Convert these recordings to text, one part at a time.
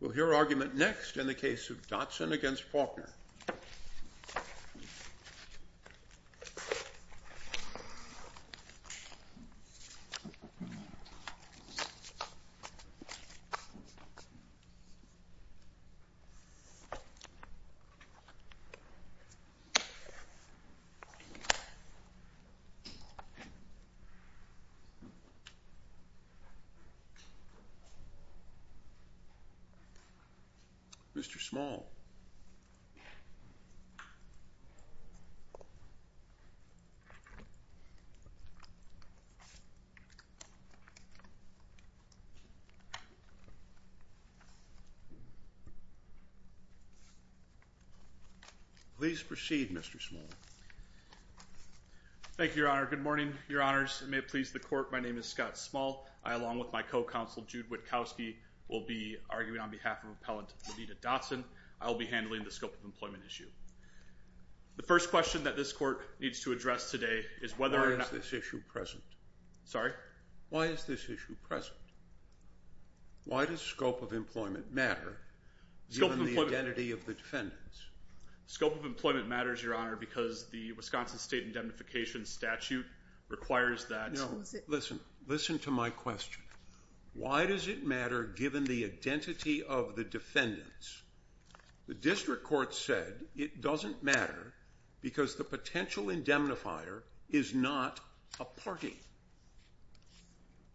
We'll hear argument next in the case of Dotson v. Faulkner. Mr. Small. Please proceed, Mr. Small. Thank you, Your Honor. Good morning, Your Honors. It may please the Court, my name is Scott Small. I, along with my co-counsel, Jude Witkowski, will be arguing on behalf of Appellant Lanita Dotson. I will be handling the scope of employment issue. The first question that this Court needs to address today is whether or not... Why is this issue present? Sorry? Why is this issue present? Why does scope of employment matter, given the identity of the defendants? Scope of employment matters, Your Honor, because the Wisconsin State Indemnification Statute requires that... No, listen. Listen to my question. Why does it matter, given the identity of the defendants? The District Court said it doesn't matter because the potential indemnifier is not a party.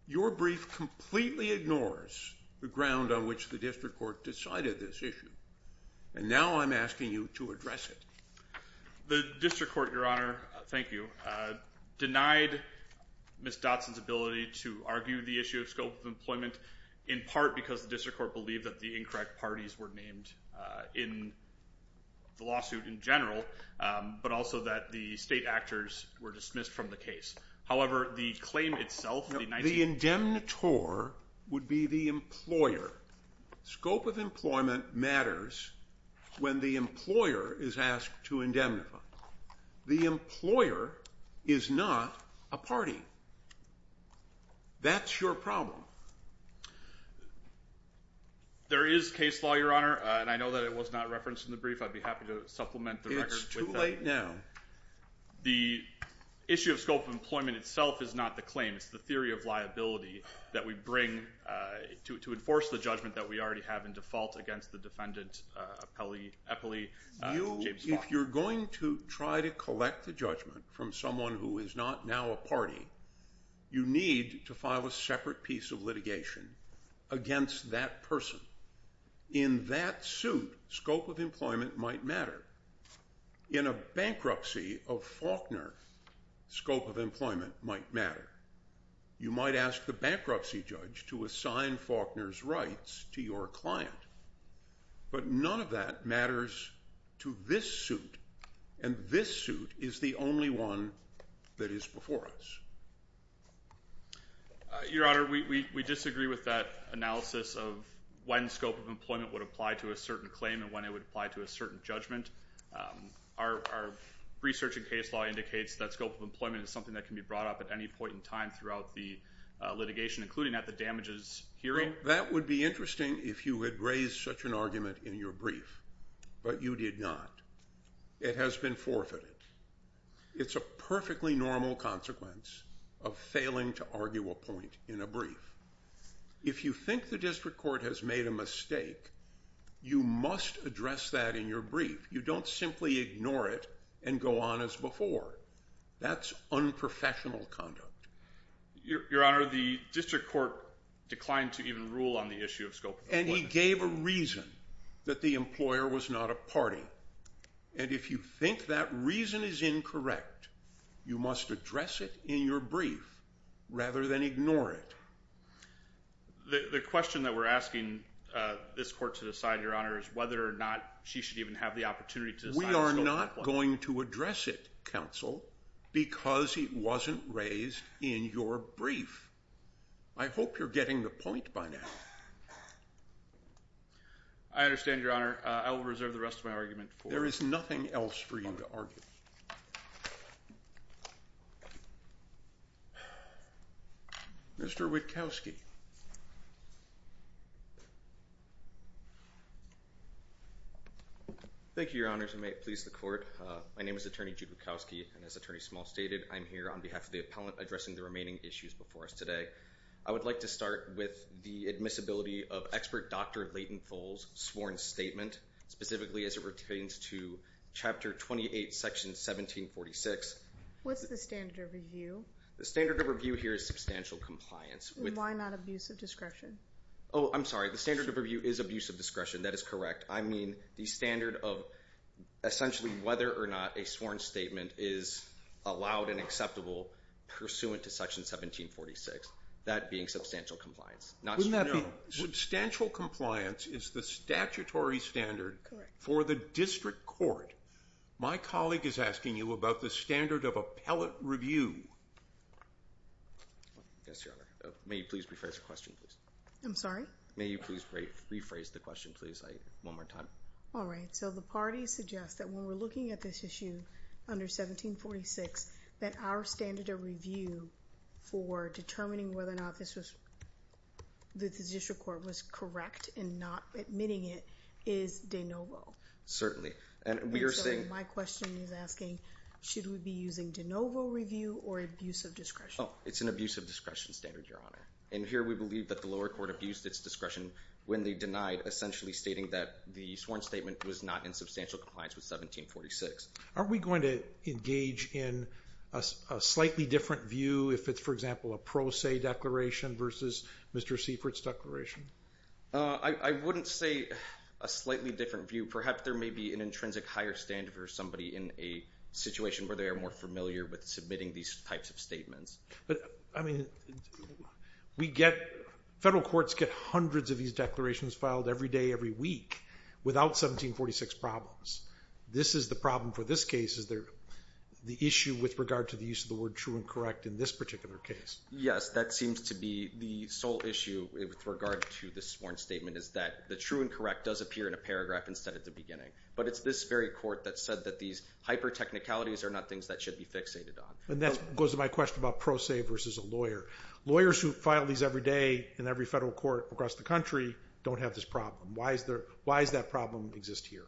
Your brief completely ignores the ground on which the District Court decided this issue. And now I'm asking you to address it. The District Court, Your Honor, thank you. Denied Ms. Dotson's ability to argue the issue of scope of employment in part because the District Court believed that the incorrect parties were named in the lawsuit in general, but also that the state actors were dismissed from the case. However, the claim itself... The indemnitor would be the employer. Scope of employment matters when the employer is asked to indemnify. The employer is not a party. That's your problem. There is case law, Your Honor, and I know that it was not referenced in the brief. I'd be happy to supplement the record with that. It's too late now. The issue of scope of employment itself is not the claim. It's the theory of liability that we bring to enforce the judgment that we already have in default against the defendant, Appellee James Faulkner. If you're going to try to collect the judgment from someone who is not now a party, you need to file a separate piece of litigation against that person. In that suit, scope of employment might matter. In a bankruptcy of Faulkner, scope of employment might matter. You might ask the bankruptcy judge to assign Faulkner's rights to your client, but none of that matters to this suit, and this suit is the only one that is before us. Your Honor, we disagree with that analysis of when scope of employment would apply to a certain claim and when it would apply to a certain judgment. Our research in case law indicates that scope of employment is something that can be brought up at any point in time throughout the litigation, including at the damages hearing. That would be interesting if you had raised such an argument in your brief, but you did not. It has been forfeited. It's a perfectly normal consequence of failing to argue a point in a brief. If you think the district court has made a mistake, you must address that in your brief. You don't simply ignore it and go on as before. That's unprofessional conduct. Your Honor, the district court declined to even rule on the issue of scope of employment. And he gave a reason that the employer was not a party. And if you think that reason is incorrect, you must address it in your brief rather than ignore it. The question that we're asking this court to decide, Your Honor, is whether or not she should even have the opportunity to decide on scope of employment. We're not going to address it, counsel, because it wasn't raised in your brief. I hope you're getting the point by now. I understand, Your Honor. I will reserve the rest of my argument for... There is nothing else for you to argue. Mr. Witkowski. Thank you. Thank you, Your Honors. I may please the court. My name is Attorney Jude Witkowski, and as Attorney Small stated, I'm here on behalf of the appellant addressing the remaining issues before us today. I would like to start with the admissibility of Expert Dr. Leighton Thole's sworn statement, specifically as it pertains to Chapter 28, Section 1746. What's the standard of review? The standard of review here is substantial compliance. Why not abuse of discretion? Oh, I'm sorry. The standard of review is abuse of discretion. That is correct. I mean the standard of essentially whether or not a sworn statement is allowed and acceptable pursuant to Section 1746, that being substantial compliance. Wouldn't that be... Substantial compliance is the statutory standard for the district court. My colleague is asking you about the standard of appellate review. Yes, Your Honor. May you please rephrase the question, please? I'm sorry? May you please rephrase the question, please, one more time? All right. So the parties suggest that when we're looking at this issue under 1746, that our standard of review for determining whether or not the district court was correct in not admitting it is de novo. Certainly. And we are saying... My question is asking, should we be using de novo review or abuse of discretion? It's an abuse of discretion standard, Your Honor. And here we believe that the lower court abused its discretion when they denied, essentially stating that the sworn statement was not in substantial compliance with 1746. Aren't we going to engage in a slightly different view if it's, for example, a pro se declaration versus Mr. Seifert's declaration? I wouldn't say a slightly different view. Perhaps there may be an intrinsic higher standard for somebody in a situation where they are more familiar with submitting these types of statements. But, I mean, federal courts get hundreds of these declarations filed every day, every week, without 1746 problems. This is the problem for this case. Is there the issue with regard to the use of the word true and correct in this particular case? Yes, that seems to be the sole issue with regard to the sworn statement, is that the true and correct does appear in a paragraph instead of the beginning. But it's this very court that said that these hyper technicalities are not things that should be fixated on. And that goes to my question about pro se versus a lawyer. Lawyers who file these every day in every federal court across the country don't have this problem. Why does that problem exist here?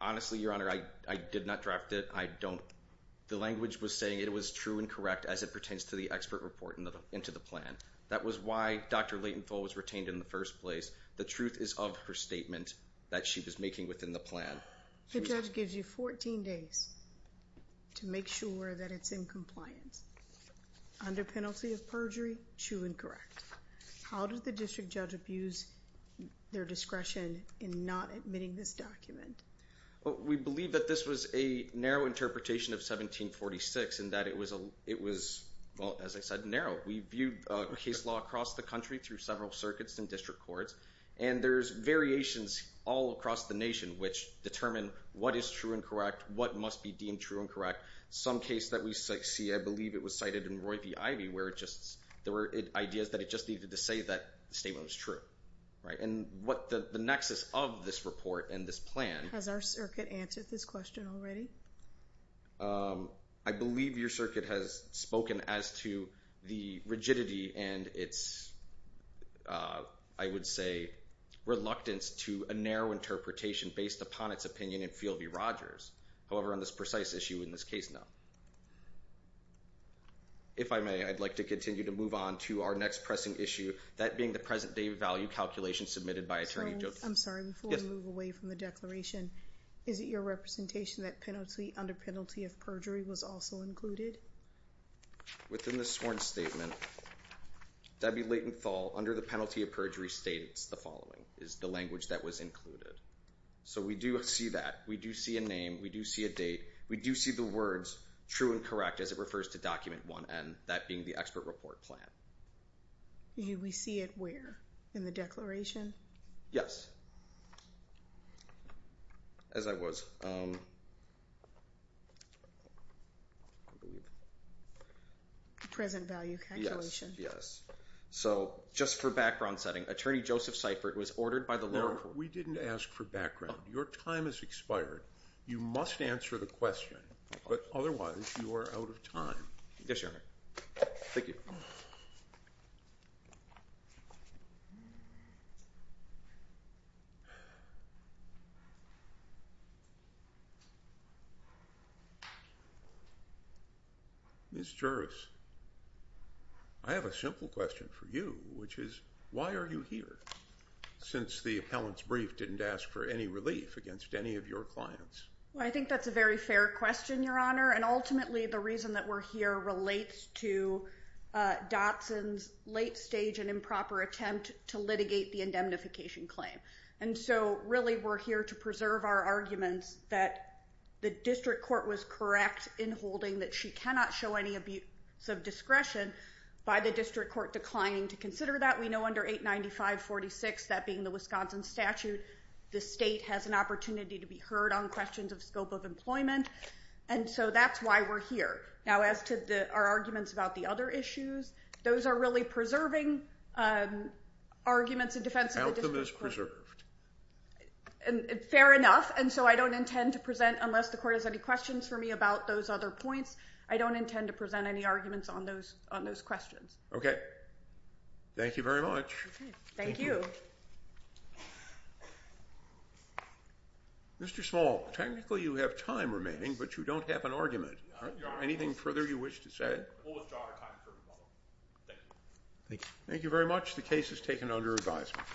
Honestly, Your Honor, I did not draft it. I don't. The language was saying it was true and correct as it pertains to the expert report into the plan. That was why Dr. Latenthal was retained in the first place. The truth is of her statement that she was making within the plan. The judge gives you 14 days to make sure that it's in compliance. Under penalty of perjury, true and correct. How did the district judge abuse their discretion in not admitting this document? We believe that this was a narrow interpretation of 1746 and that it was, well, as I said, narrow. We viewed case law across the country through several circuits and district courts. And there's variations all across the nation which determine what is true and correct, what must be deemed true and correct. Some case that we see, I believe it was cited in Roy v. Ivy where it just, there were ideas that it just needed to say that the statement was true. And what the nexus of this report and this plan. Has our circuit answered this question already? I believe your circuit has spoken as to the rigidity and its, I would say, reluctance to a narrow interpretation based upon its opinion in Field v. Rogers. However, on this precise issue in this case, no. If I may, I'd like to continue to move on to our next pressing issue. That being the present day value calculation submitted by attorney. I'm sorry before we move away from the declaration. Is it your representation that penalty under penalty of perjury was also included? Within the sworn statement, W. Layton Thal under the penalty of perjury states the following is the language that was included. So we do see that. We do see a name. We do see a date. We do see the words true and correct as it refers to document one and that being the expert report plan. We see it where in the declaration? Yes. As I was. Present value calculation. Yes. So just for background setting, attorney Joseph Seifert was ordered by the law. We didn't ask for background. Your time has expired. You must answer the question. Otherwise, you are out of time. Yes, your honor. Thank you. This jurors. I have a simple question for you, which is why are you here? Since the appellants brief didn't ask for any relief against any of your clients. I think that's a very fair question, your honor. And ultimately, the reason that we're here relates to Dotson's late stage and improper attempt to litigate the indemnification claim. And so really, we're here to preserve our arguments that the district court was correct in holding that she cannot show any abuse of discretion by the district court declining to consider that. We know under 895-46, that being the Wisconsin statute, the state has an opportunity to be heard on questions of scope of employment. And so that's why we're here. Now, as to our arguments about the other issues, those are really preserving arguments in defense of the district court. Outcome is preserved. Fair enough. And so I don't intend to present, unless the court has any questions for me about those other points, I don't intend to present any arguments on those questions. Okay. Thank you very much. Thank you. Thank you. Mr. Small, technically you have time remaining, but you don't have an argument. Anything further you wish to say? Thank you. Thank you very much. The case is taken under advisement.